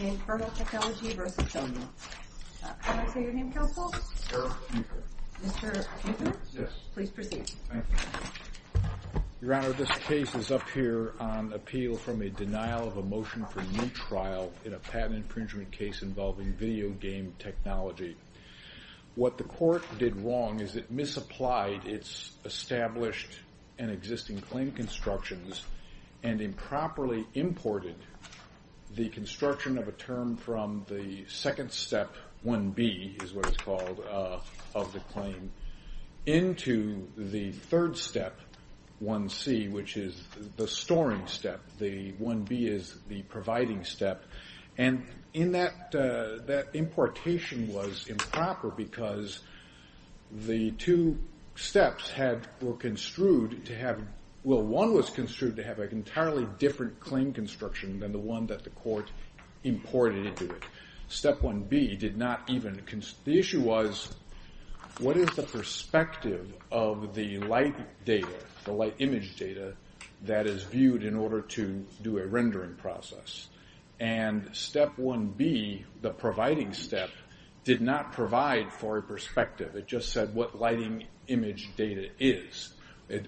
Infernal Technology v. Sony Can I say your name, Counsel? Eric Cooper Mr. Cooper? Yes Please proceed Thank you Your Honor, this case is up here on appeal from a denial of a motion for new trial in a patent infringement case involving video game technology What the court did wrong is it misapplied its established and existing claim constructions and improperly imported the construction of a term from the second step, 1B, is what it's called, of the claim into the third step, 1C, which is the storing step, the 1B is the providing step, and that importation was improper because the two steps were construed to have well, one was construed to have an entirely different claim construction than the one that the court imported into it step 1B did not even, the issue was, what is the perspective of the light data, the light image data that is viewed in order to do a rendering process and step 1B, the providing step, did not provide for a perspective, it just said what lighting image data is,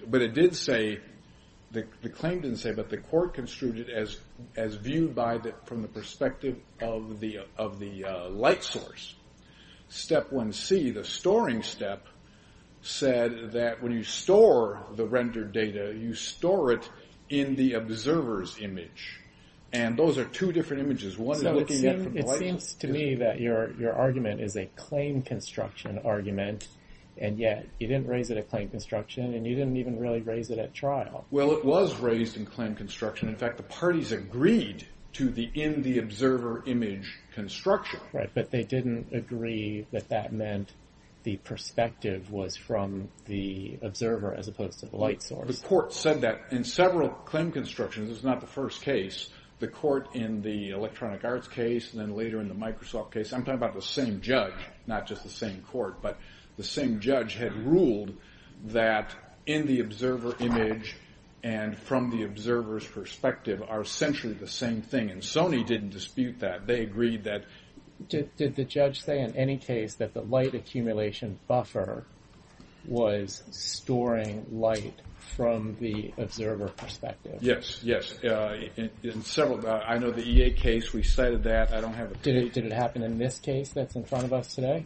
but it did say, the claim didn't say, but the court construed it as viewed from the perspective of the light source step 1C, the storing step, said that when you store the rendered data, you store it in the observer's image, and those are two different images, one looking at the light So it seems to me that your argument is a claim construction argument, and yet you didn't raise it at claim construction, and you didn't even really raise it at trial Well it was raised in claim construction, in fact the parties agreed to the in the observer image construction Right, but they didn't agree that that meant the perspective was from the observer as opposed to the light source The court said that in several claim constructions, this is not the first case, the court in the Electronic Arts case, and then later in the Microsoft case, I'm talking about the same judge not just the same court, but the same judge had ruled that in the observer image and from the observer's perspective are essentially the same thing and Sony didn't dispute that, they agreed that Did the judge say in any case that the light accumulation buffer was storing light from the observer perspective? Yes, yes, in several, I know the EA case, we cited that, I don't have a Did it happen in this case that's in front of us today?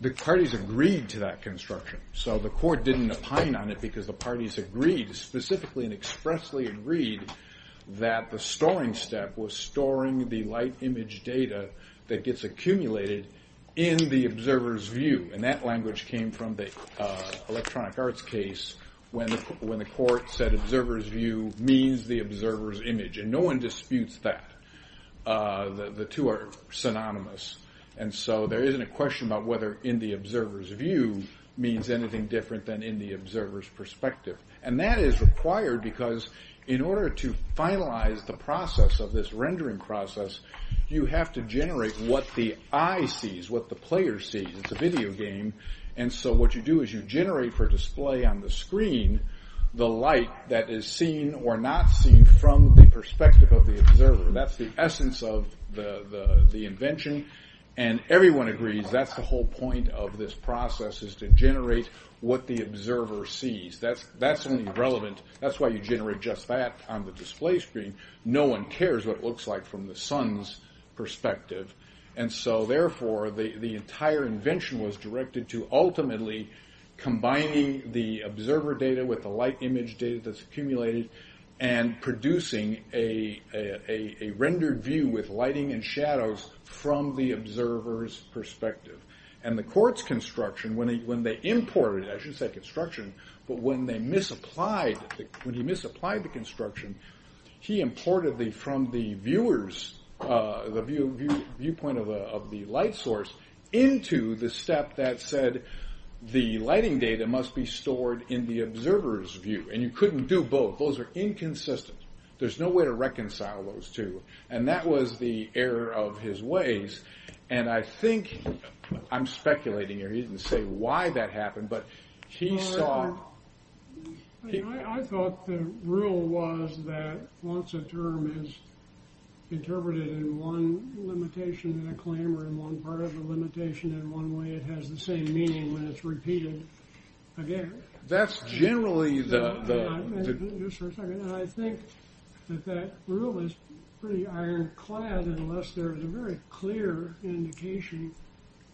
The parties agreed to that construction, so the court didn't opine on it because the parties agreed, specifically and expressly agreed that the storing step was storing the light image data that gets accumulated in the observer's view, and that language came from the Electronic Arts case when the court said observer's view means the observer's image, and no one disputes that the two are synonymous, and so there isn't a question about whether in the observer's view means anything different than in the observer's perspective and that is required because in order to finalize the process of this rendering process, you have to generate what the eye sees, what the player sees it's a video game, and so what you do is you generate for display on the screen the light that is seen or not seen from the perspective of the observer that's the essence of the invention, and everyone agrees that's the whole point of this process is to generate what the observer sees that's only relevant, that's why you generate just that on the display screen, no one cares what it looks like from the sun's perspective and so therefore the entire invention was directed to ultimately combining the observer data with the light image data that's accumulated and producing a rendered view with lighting and shadows from the observer's perspective and the court's construction, when they imported, I shouldn't say construction, but when they misapplied, when he misapplied the construction he imported from the viewers, the viewpoint of the light source into the step that said the lighting data must be stored in the observer's view and you couldn't do both, those are inconsistent, there's no way to reconcile those two, and that was the error of his ways and I think, I'm speculating here, he didn't say why that happened, but he saw I thought the rule was that once a term is interpreted in one limitation and a claim or in one part of the limitation in one way it has the same meaning when it's repeated again I think that that rule is pretty ironclad unless there is a very clear indication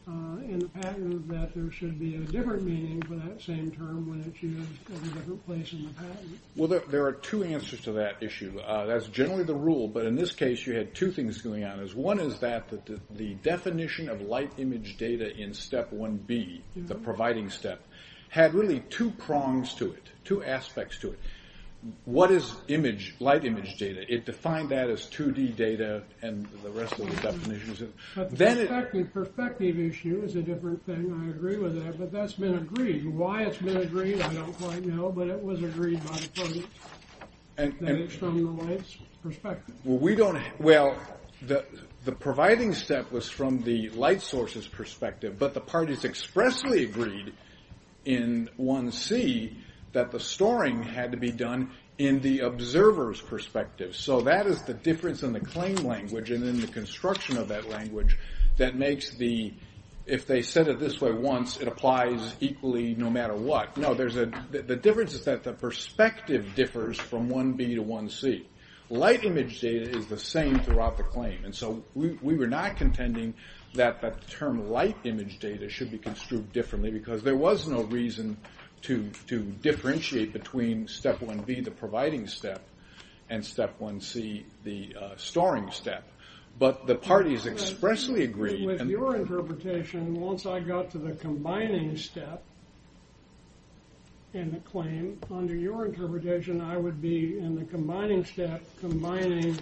in the patent that there should be a different meaning for that same term when it's used in a different place in the patent Well there are two answers to that issue, that's generally the rule, but in this case you had two things going on One is that the definition of light image data in step 1B, the providing step, had really two prongs to it, two aspects to it What is light image data? It defined that as 2D data and the rest of the definitions The perspective issue is a different thing, I agree with that, but that's been agreed Why it's been agreed, I don't quite know, but it was agreed by the project Well the providing step was from the light source's perspective, but the parties expressly agreed in 1C that the storing had to be done in the observer's perspective So that is the difference in the claim language and in the construction of that language that makes the, if they said it this way once, it applies equally no matter what The difference is that the perspective differs from 1B to 1C. Light image data is the same throughout the claim So we were not contending that the term light image data should be construed differently because there was no reason to differentiate between step 1B, the providing step, and step 1C, the storing step With your interpretation, once I got to the combining step in the claim, under your interpretation I would be in the combining step combining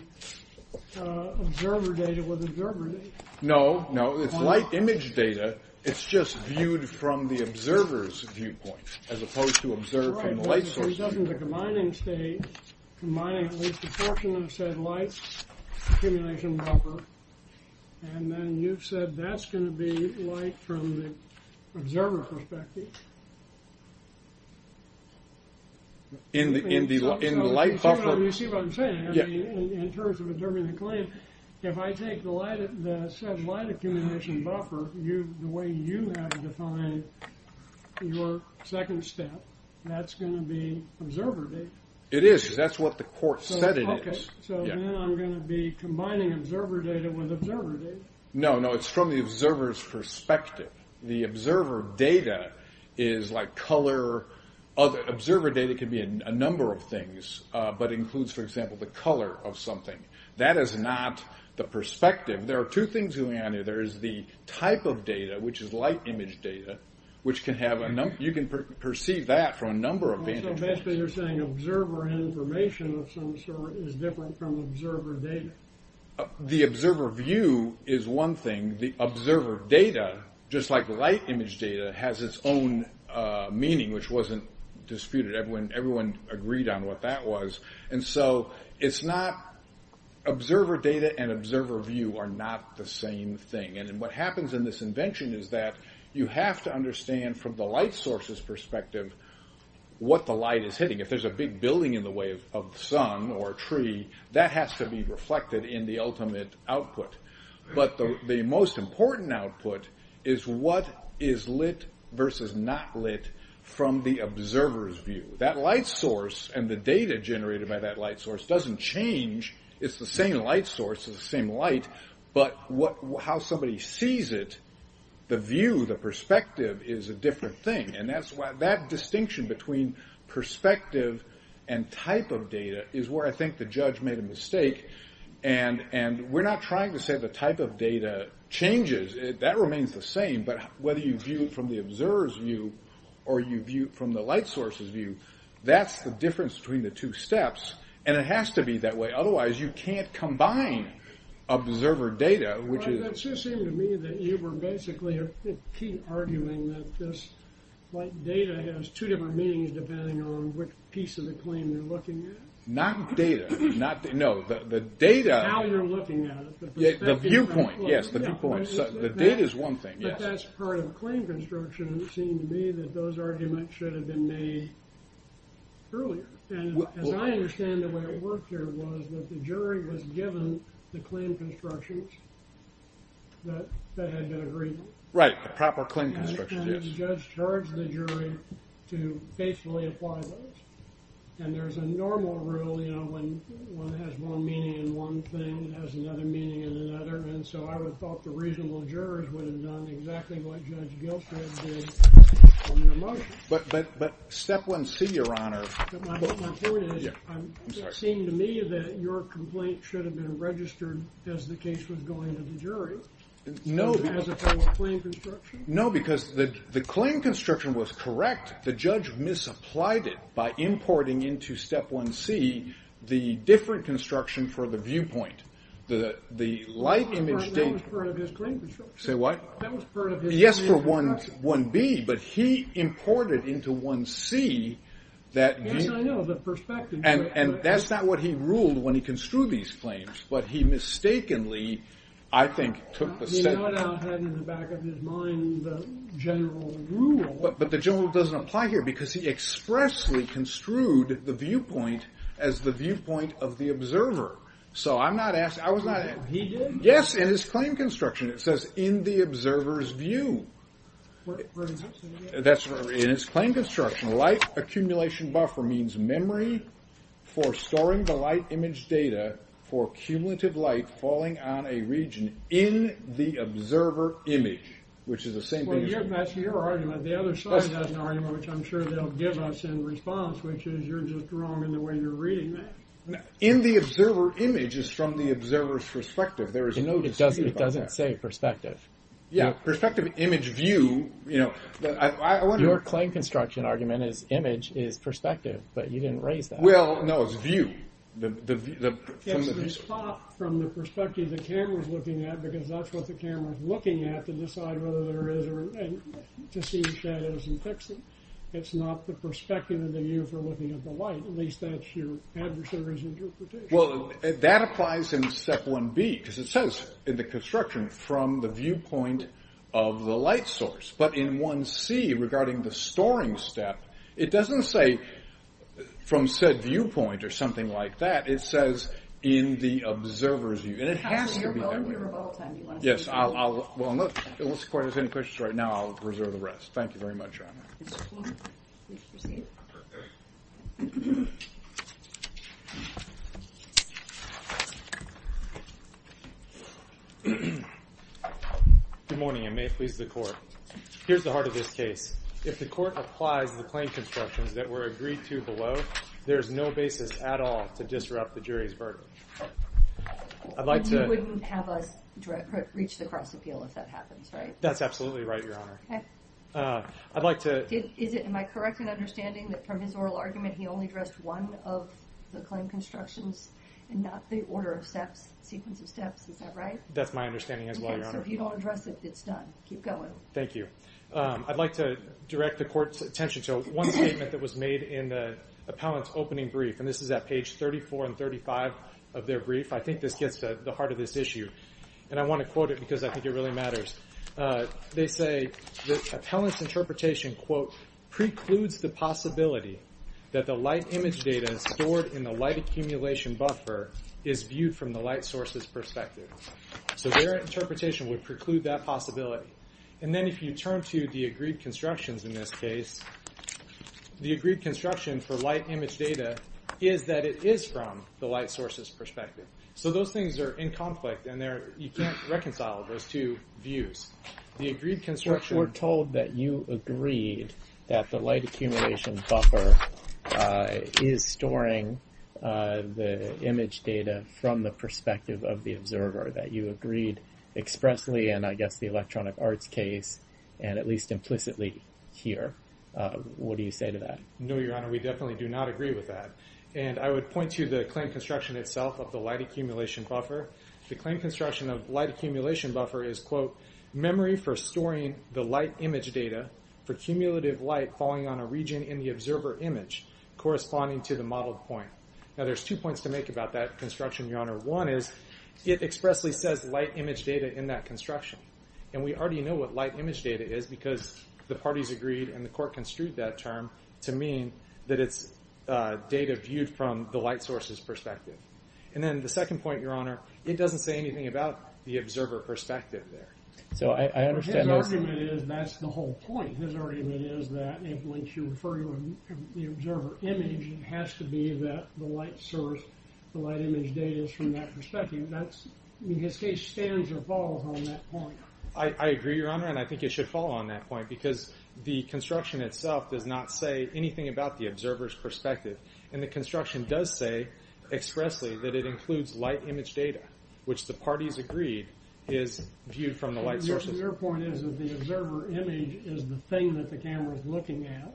observer data with observer data No, no, it's light image data, it's just viewed from the observer's viewpoint as opposed to observed from the light source's viewpoint So you've taken the combining state, combining at least a portion of said light accumulation buffer, and then you've said that's going to be light from the observer's perspective You see what I'm saying? In terms of observing the claim, if I take the said light accumulation buffer, the way you have defined your second step, that's going to be observer data It is, because that's what the court said it is So then I'm going to be combining observer data with observer data No, no, it's from the observer's perspective. The observer data is like color. Observer data can be a number of things, but includes, for example, the color of something That is not the perspective. There are two things going on here. There is the type of data, which is light image data, which you can perceive that from a number of vantage points So basically you're saying observer information of some sort is different from observer data The observer view is one thing. The observer data, just like light image data, has its own meaning, which wasn't disputed. Everyone agreed on what that was So observer data and observer view are not the same thing What happens in this invention is that you have to understand from the light source's perspective what the light is hitting If there's a big building in the way of the sun or a tree, that has to be reflected in the ultimate output But the most important output is what is lit versus not lit from the observer's view That light source and the data generated by that light source doesn't change. It's the same light source, it's the same light, but how somebody sees it, the view, the perspective, is a different thing That distinction between perspective and type of data is where I think the judge made a mistake We're not trying to say the type of data changes, that remains the same, but whether you view it from the observer's view or you view it from the light source's view, that's the difference between the two steps And it has to be that way, otherwise you can't combine observer data It just seemed to me that you were basically arguing that this light data has two different meanings depending on which piece of the claim you're looking at Now you're looking at it, the perspective is one thing, but that's part of claim construction And it seemed to me that those arguments should have been made earlier And as I understand the way it worked here was that the jury was given the claim constructions that had been agreed on And the judge charged the jury to faithfully apply those And there's a normal rule, you know, when one has one meaning in one thing, it has another meaning in another And so I would have thought the reasonable jurors would have done exactly what Judge Gilchrist did on the motion But step 1c, your honor My point is, it seemed to me that your complaint should have been registered as the case was going to the jury No, because the claim construction was correct But the judge misapplied it by importing into step 1c the different construction for the viewpoint That was part of his claim construction Say what? That was part of his claim construction Yes, for 1b, but he imported into 1c Yes, I know, the perspective And that's not what he ruled when he construed these claims, but he mistakenly, I think, took the step He no doubt had in the back of his mind the general rule But the general rule doesn't apply here, because he expressly construed the viewpoint as the viewpoint of the observer So I'm not asking, I was not He did? Yes, in his claim construction, it says, in the observer's view In his claim construction, light accumulation buffer means memory for storing the light image data For cumulative light falling on a region in the observer image Well, that's your argument, the other side has an argument which I'm sure they'll give us in response Which is, you're just wrong in the way you're reading that In the observer image, it's from the observer's perspective No, it doesn't say perspective Yeah, perspective image view Your claim construction argument is image is perspective, but you didn't raise that Well, no, it's view It's the spot from the perspective the camera's looking at, because that's what the camera's looking at To decide whether there is, to see the shadows and fix it It's not the perspective of the viewer looking at the light, at least that's your adversary's interpretation Well, that applies in step 1b, because it says in the construction, from the viewpoint of the light source But in 1c, regarding the storing step, it doesn't say from said viewpoint or something like that It says in the observer's view, and it has to be that way Absolutely, you're of all time, do you want to speak to that? Yes, unless the court has any questions right now, I'll reserve the rest, thank you very much Good morning, and may it please the court Here's the heart of this case If the court applies the claim constructions that were agreed to below, there's no basis at all to disrupt the jury's verdict You wouldn't have us reach the cross appeal if that happens, right? That's absolutely right, your honor Am I correct in understanding that from his oral argument, he only addressed one of the claim constructions And not the order of steps, sequence of steps, is that right? That's my understanding as well, your honor Okay, so if you don't address it, it's done, keep going Thank you, I'd like to direct the court's attention to one statement that was made in the appellant's opening brief And this is at page 34 and 35 of their brief, I think this gets to the heart of this issue And I want to quote it because I think it really matters They say, the appellant's interpretation, quote, precludes the possibility that the light image data stored in the light accumulation buffer Is viewed from the light source's perspective So their interpretation would preclude that possibility And then if you turn to the agreed constructions in this case The agreed construction for light image data is that it is from the light source's perspective So those things are in conflict and you can't reconcile those two views The agreed construction We're told that you agreed that the light accumulation buffer is storing the image data from the perspective of the observer That you agreed expressly in, I guess, the electronic arts case And at least implicitly here What do you say to that? No, your honor, we definitely do not agree with that And I would point to the claim construction itself of the light accumulation buffer The claim construction of light accumulation buffer is, quote, memory for storing the light image data For cumulative light falling on a region in the observer image corresponding to the modeled point Now there's two points to make about that construction, your honor One is, it expressly says light image data in that construction And we already know what light image data is Because the parties agreed and the court construed that term To mean that it's data viewed from the light source's perspective And then the second point, your honor It doesn't say anything about the observer perspective there His argument is, that's the whole point His argument is that if you refer to the observer image It has to be that the light source, the light image data is from that perspective His case stands or falls on that point I agree, your honor, and I think it should fall on that point Because the construction itself does not say anything about the observer's perspective And the construction does say expressly that it includes light image data Which the parties agreed is viewed from the light source's perspective Your point is that the observer image is the thing that the camera is looking at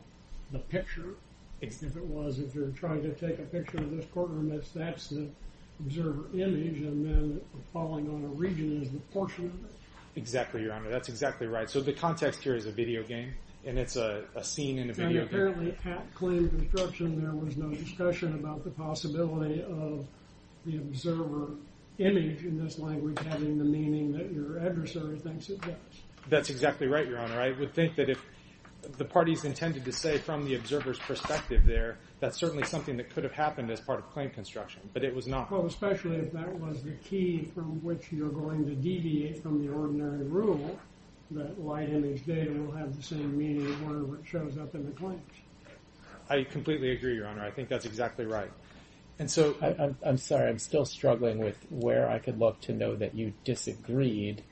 The picture, if it was If you're trying to take a picture of this courtroom That's the observer image And then falling on a region is the portion of it Exactly, your honor, that's exactly right So the context here is a video game And it's a scene in a video game And apparently at claim construction there was no discussion about the possibility Of the observer image in this language having the meaning that your adversary thinks it does That's exactly right, your honor I would think that if the parties intended to say from the observer's perspective there That's certainly something that could have happened as part of claim construction But it was not Well, especially if that was the key from which you're going to deviate from the ordinary rule That light image data will have the same meaning where it shows up in the claims I completely agree, your honor, I think that's exactly right And so I'm sorry, I'm still struggling with where I could look to know that you disagreed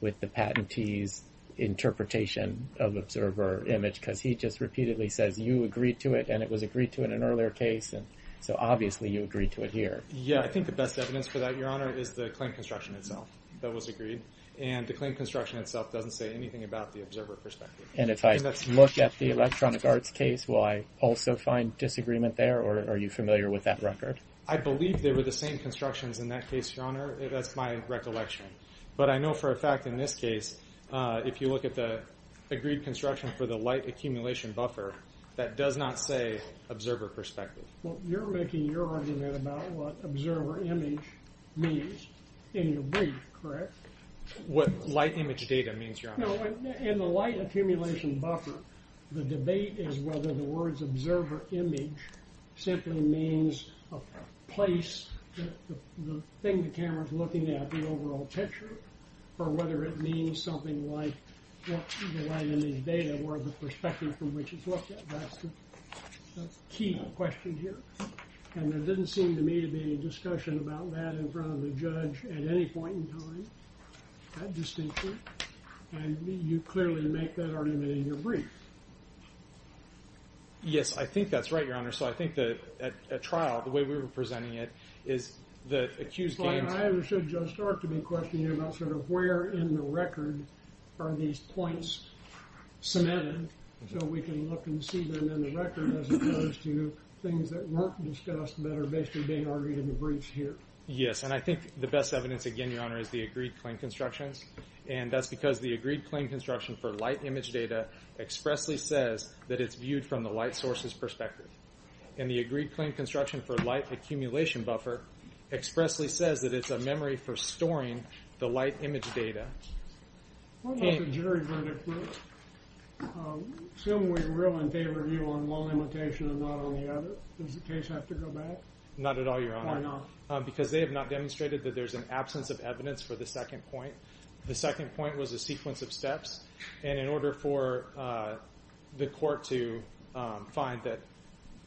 With the patentee's interpretation of observer image Because he just repeatedly says you agreed to it and it was agreed to in an earlier case So obviously you agreed to it here Yeah, I think the best evidence for that, your honor, is the claim construction itself That was agreed And the claim construction itself doesn't say anything about the observer perspective And if I look at the electronic arts case will I also find disagreement there Or are you familiar with that record? I believe they were the same constructions in that case, your honor That's my recollection But I know for a fact in this case If you look at the agreed construction for the light accumulation buffer That does not say observer perspective Well, you're making your argument about what observer image means in your brief, correct? What light image data means, your honor No, in the light accumulation buffer The debate is whether the words observer image simply means a place The thing the camera's looking at, the overall picture Or whether it means something like what the light image data Or the perspective from which it's looked at That's the key question here And there didn't seem to me to be any discussion about that in front of the judge At any point in time, that distinction And you clearly make that argument in your brief Yes, I think that's right, your honor So I think that at trial, the way we were presenting it I understood Judge Stark to be questioning about Where in the record are these points cemented So we can look and see them in the record As opposed to things that weren't discussed That are basically being argued in the briefs here Yes, and I think the best evidence again, your honor Is the agreed claim constructions And that's because the agreed claim construction for light image data Expressly says that it's viewed from the light source's perspective And the agreed claim construction for light accumulation buffer Expressly says that it's a memory for storing the light image data What about the jury verdict? Assuming we're all in favor of you on one limitation and not on the other Does the case have to go back? Not at all, your honor Why not? Because they have not demonstrated that there's an absence of evidence for the second point The second point was a sequence of steps And in order for the court to find that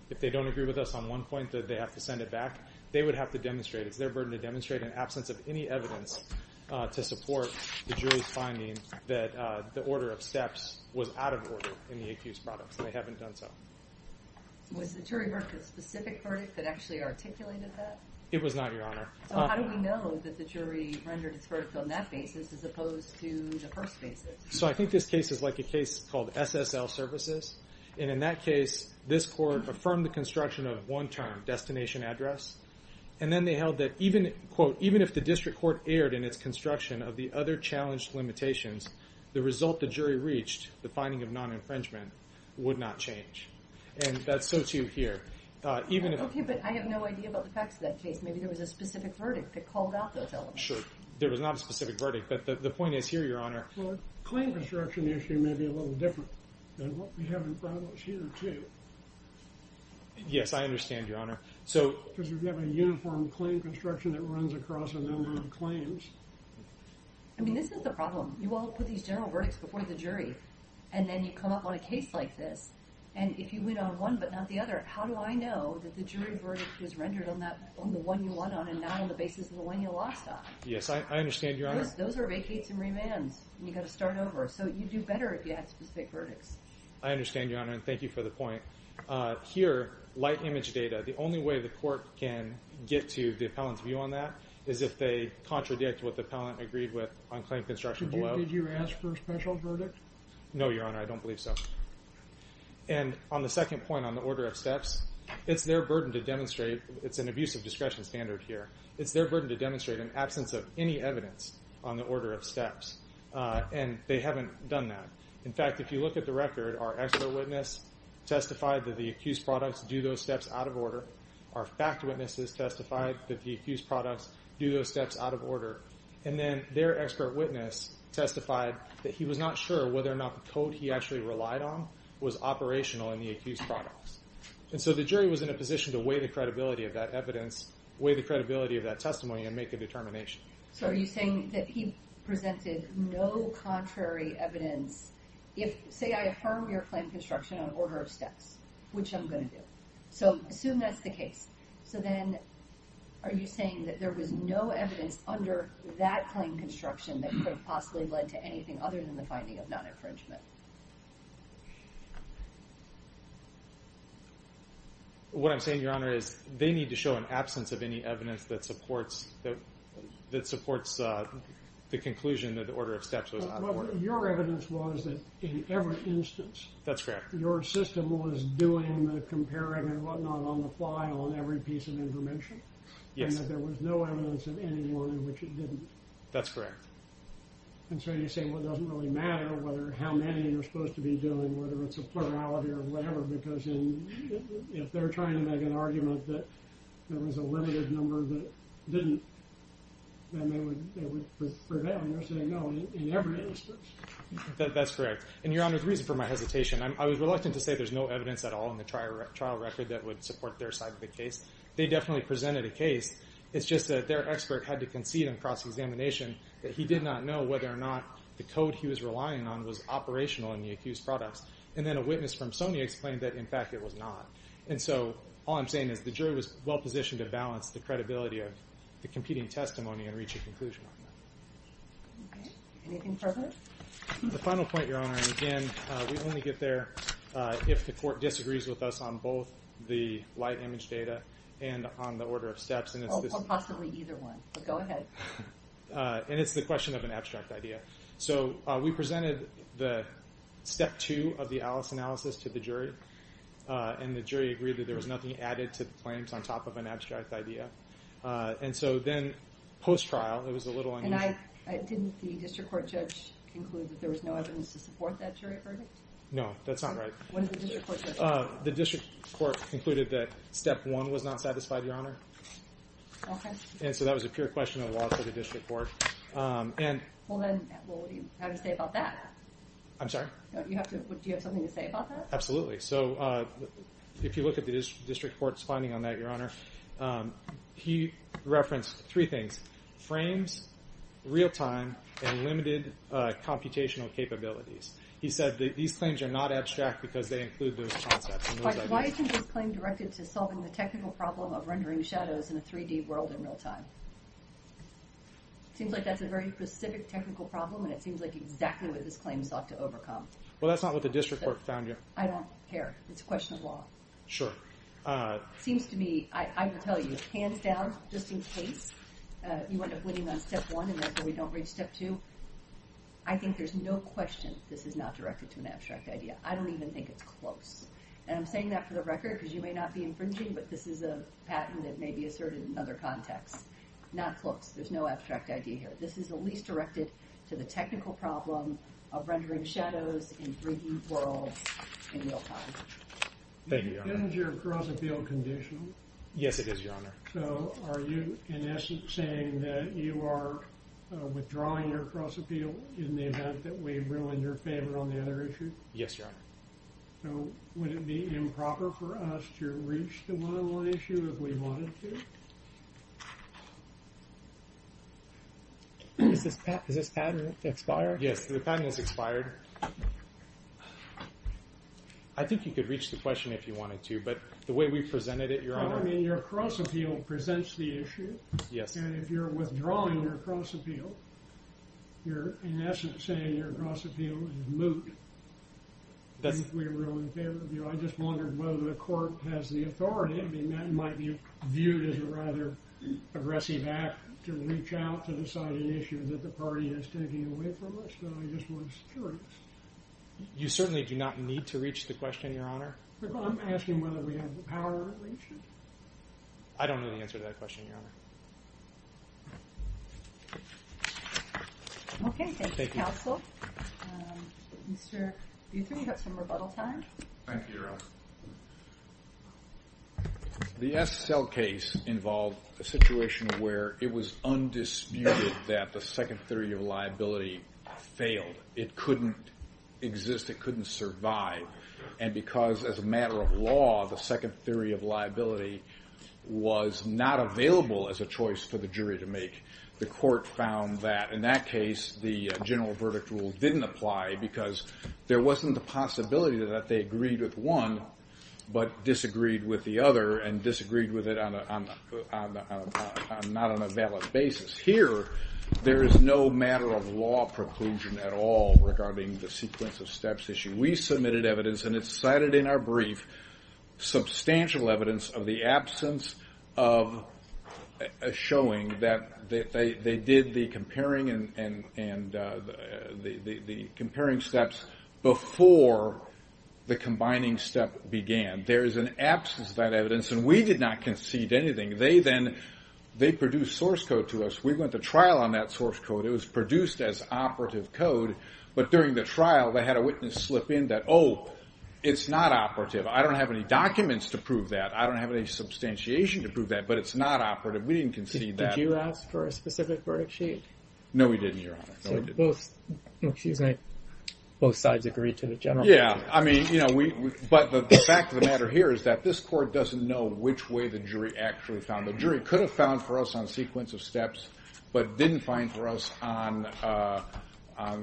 If they don't agree with us on one point that they have to send it back They would have to demonstrate It's their burden to demonstrate an absence of any evidence To support the jury's finding that the order of steps Was out of order in the accused's products They haven't done so Was the jury verdict a specific verdict that actually articulated that? It was not, your honor So how do we know that the jury rendered its verdict on that basis As opposed to the first basis? So I think this case is like a case called SSL Services And in that case, this court affirmed the construction of one term Destination address And then they held that even if the district court erred in its construction Of the other challenged limitations The result the jury reached, the finding of non-infringement Would not change And that's so too here Okay, but I have no idea about the facts of that case Maybe there was a specific verdict that called out those elements I'm not sure There was not a specific verdict But the point is here, your honor Well, the claim construction issue may be a little different And what we have in front of us here, too Yes, I understand, your honor So Because we have a uniform claim construction That runs across a number of claims I mean, this is the problem You all put these general verdicts before the jury And then you come up on a case like this And if you win on one but not the other How do I know that the jury verdict is rendered on the one you won on And not on the basis of the one you lost on? Yes, I understand, your honor Those are vacates and remands And you've got to start over So you'd do better if you had specific verdicts I understand, your honor And thank you for the point Here, light image data The only way the court can get to the appellant's view on that Is if they contradict what the appellant agreed with On claim construction below Did you ask for a special verdict? No, your honor I don't believe so And on the second point, on the order of steps It's their burden to demonstrate It's an abuse of discretion standard here It's their burden to demonstrate an absence of any evidence On the order of steps And they haven't done that In fact, if you look at the record Our expert witness testified that the accused products do those steps out of order Our fact witnesses testified that the accused products do those steps out of order And then their expert witness testified That he was not sure whether or not the code he actually relied on Was operational in the accused products And so the jury was in a position to weigh the credibility of that evidence Weigh the credibility of that testimony and make a determination So are you saying that he presented no contrary evidence If, say I affirm your claim construction on order of steps Which I'm going to do So assume that's the case So then, are you saying that there was no evidence under that claim construction That could have possibly led to anything other than the finding of non-infringement? What I'm saying your honor is They need to show an absence of any evidence that supports That supports the conclusion that the order of steps was out of order Your evidence was that in every instance That's correct Your system was doing the comparing and what not on the fly on every piece of information Yes And that there was no evidence of anyone in which it didn't That's correct And so you say well it doesn't really matter Whether how many they're supposed to be doing Whether it's a plurality or whatever Because if they're trying to make an argument that There was a limited number that didn't Then they would prevail And you're saying no in every instance That's correct And your honor the reason for my hesitation I was reluctant to say there's no evidence at all in the trial record That would support their side of the case They definitely presented a case It's just that their expert had to concede in cross-examination That he did not know whether or not the code he was relying on Was operational in the accused products And then a witness from Sony explained that in fact it was not And so all I'm saying is the jury was well positioned to balance The credibility of the competing testimony And reach a conclusion on that Anything further? The final point your honor And again we only get there if the court disagrees with us On both the light image data and on the order of steps Or possibly either one But go ahead And it's the question of an abstract idea So we presented the step two of the Alice analysis to the jury And the jury agreed that there was nothing added to the claims On top of an abstract idea And so then post-trial it was a little unusual And didn't the district court judge conclude That there was no evidence to support that jury verdict? No that's not right When did the district court judge conclude that? The district court concluded that step one was not satisfied your honor Okay And so that was a pure question of the law to the district court Well then what do you have to say about that? I'm sorry? Do you have something to say about that? Absolutely So if you look at the district court's finding on that your honor He referenced three things Frames, real time, and limited computational capabilities He said that these claims are not abstract because they include those concepts Why isn't this claim directed to solving the technical problem of rendering shadows in a 3D world in real time? Seems like that's a very specific technical problem And it seems like exactly what this claim sought to overcome Well that's not what the district court found your honor I don't care It's a question of law Sure Seems to me I will tell you Hands down Just in case You end up winning on step one And therefore we don't reach step two I think there's no question this is not directed to an abstract idea I don't even think it's close And I'm saying that for the record Because you may not be infringing But this is a patent that may be asserted in another context Not close There's no abstract idea here This is at least directed to the technical problem Of rendering shadows in 3D worlds in real time Thank you your honor Is your cross appeal conditional? Yes it is your honor So are you in essence saying that you are withdrawing your cross appeal In the event that we ruin your favor on the other issue? Yes your honor So would it be improper for us to reach the one on one issue if we wanted to? Is this patent expired? Yes the patent is expired I think you could reach the question if you wanted to But the way we presented it your honor I mean your cross appeal presents the issue Yes And if you're withdrawing your cross appeal You're in essence saying your cross appeal is moot If we ruin the favor of you I just wondered whether the court has the authority And that might be viewed as a rather aggressive act To reach out to decide an issue that the party is taking away from us But I just wondered if it's true You certainly do not need to reach the question your honor I'm asking whether we have the power to reach it I don't know the answer to that question your honor Okay thank you counsel Mr. Dutton you have some rebuttal time Thank you your honor The Essel case involved a situation where it was undisputed That the second theory of liability failed It couldn't exist it couldn't survive And because as a matter of law the second theory of liability Was not available as a choice for the jury to make The court found that in that case the general verdict rule didn't apply Because there wasn't the possibility that they agreed with one But disagreed with the other and disagreed with it Not on a valid basis Here there is no matter of law preclusion at all Regarding the sequence of steps issue We submitted evidence and it's cited in our brief Substantial evidence of the absence of Showing that they did the comparing And the comparing steps Before the combining step began There is an absence of that evidence and we did not concede anything They then they produced source code to us We went to trial on that source code It was produced as operative code But during the trial they had a witness slip in that Oh it's not operative I don't have any documents to prove that I don't have any substantiation to prove that But it's not operative we didn't concede that Did you ask for a specific verdict sheet? No we didn't your honor Excuse me both sides agreed to the general Yeah I mean you know we but the fact of the matter here Is that this court doesn't know which way the jury actually found The jury could have found for us on sequence of steps But didn't find for us on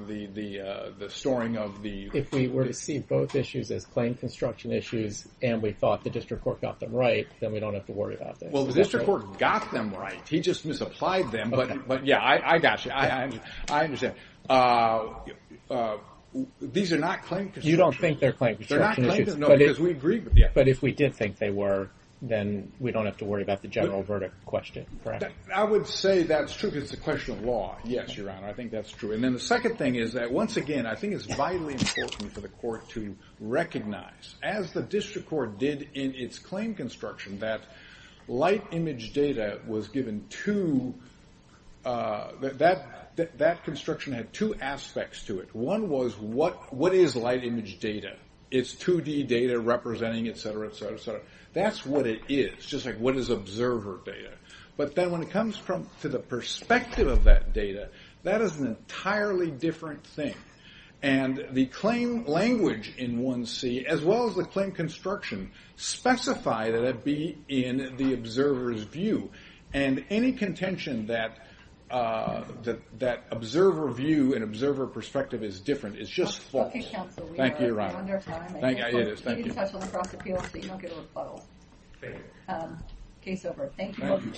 the storing of the If we were to see both issues as plain construction issues And we thought the district court got them right Then we don't have to worry about that Well the district court got them right He just misapplied them but yeah I got you I understand These are not plain construction issues You don't think they're plain construction issues They're not plain construction issues But if we did think they were Then we don't have to worry about the general verdict question I would say that's true because it's a question of law Yes your honor I think that's true And then the second thing is that once again I think it's vitally important for the court to recognize As the district court did in its claim construction That light image data was given to That construction had two aspects to it One was what is light image data It's 2D data representing etc etc That's what it is just like what is observer data But then when it comes to the perspective of that data That is an entirely different thing And the claim language in 1C as well as the claim construction Specify that it be in the observer's view And any contention that observer view And observer perspective is different It's just false Thank you your honor Thank you You need to touch on the cross appeal So you don't get a rebuttal Thank you Case over Thank you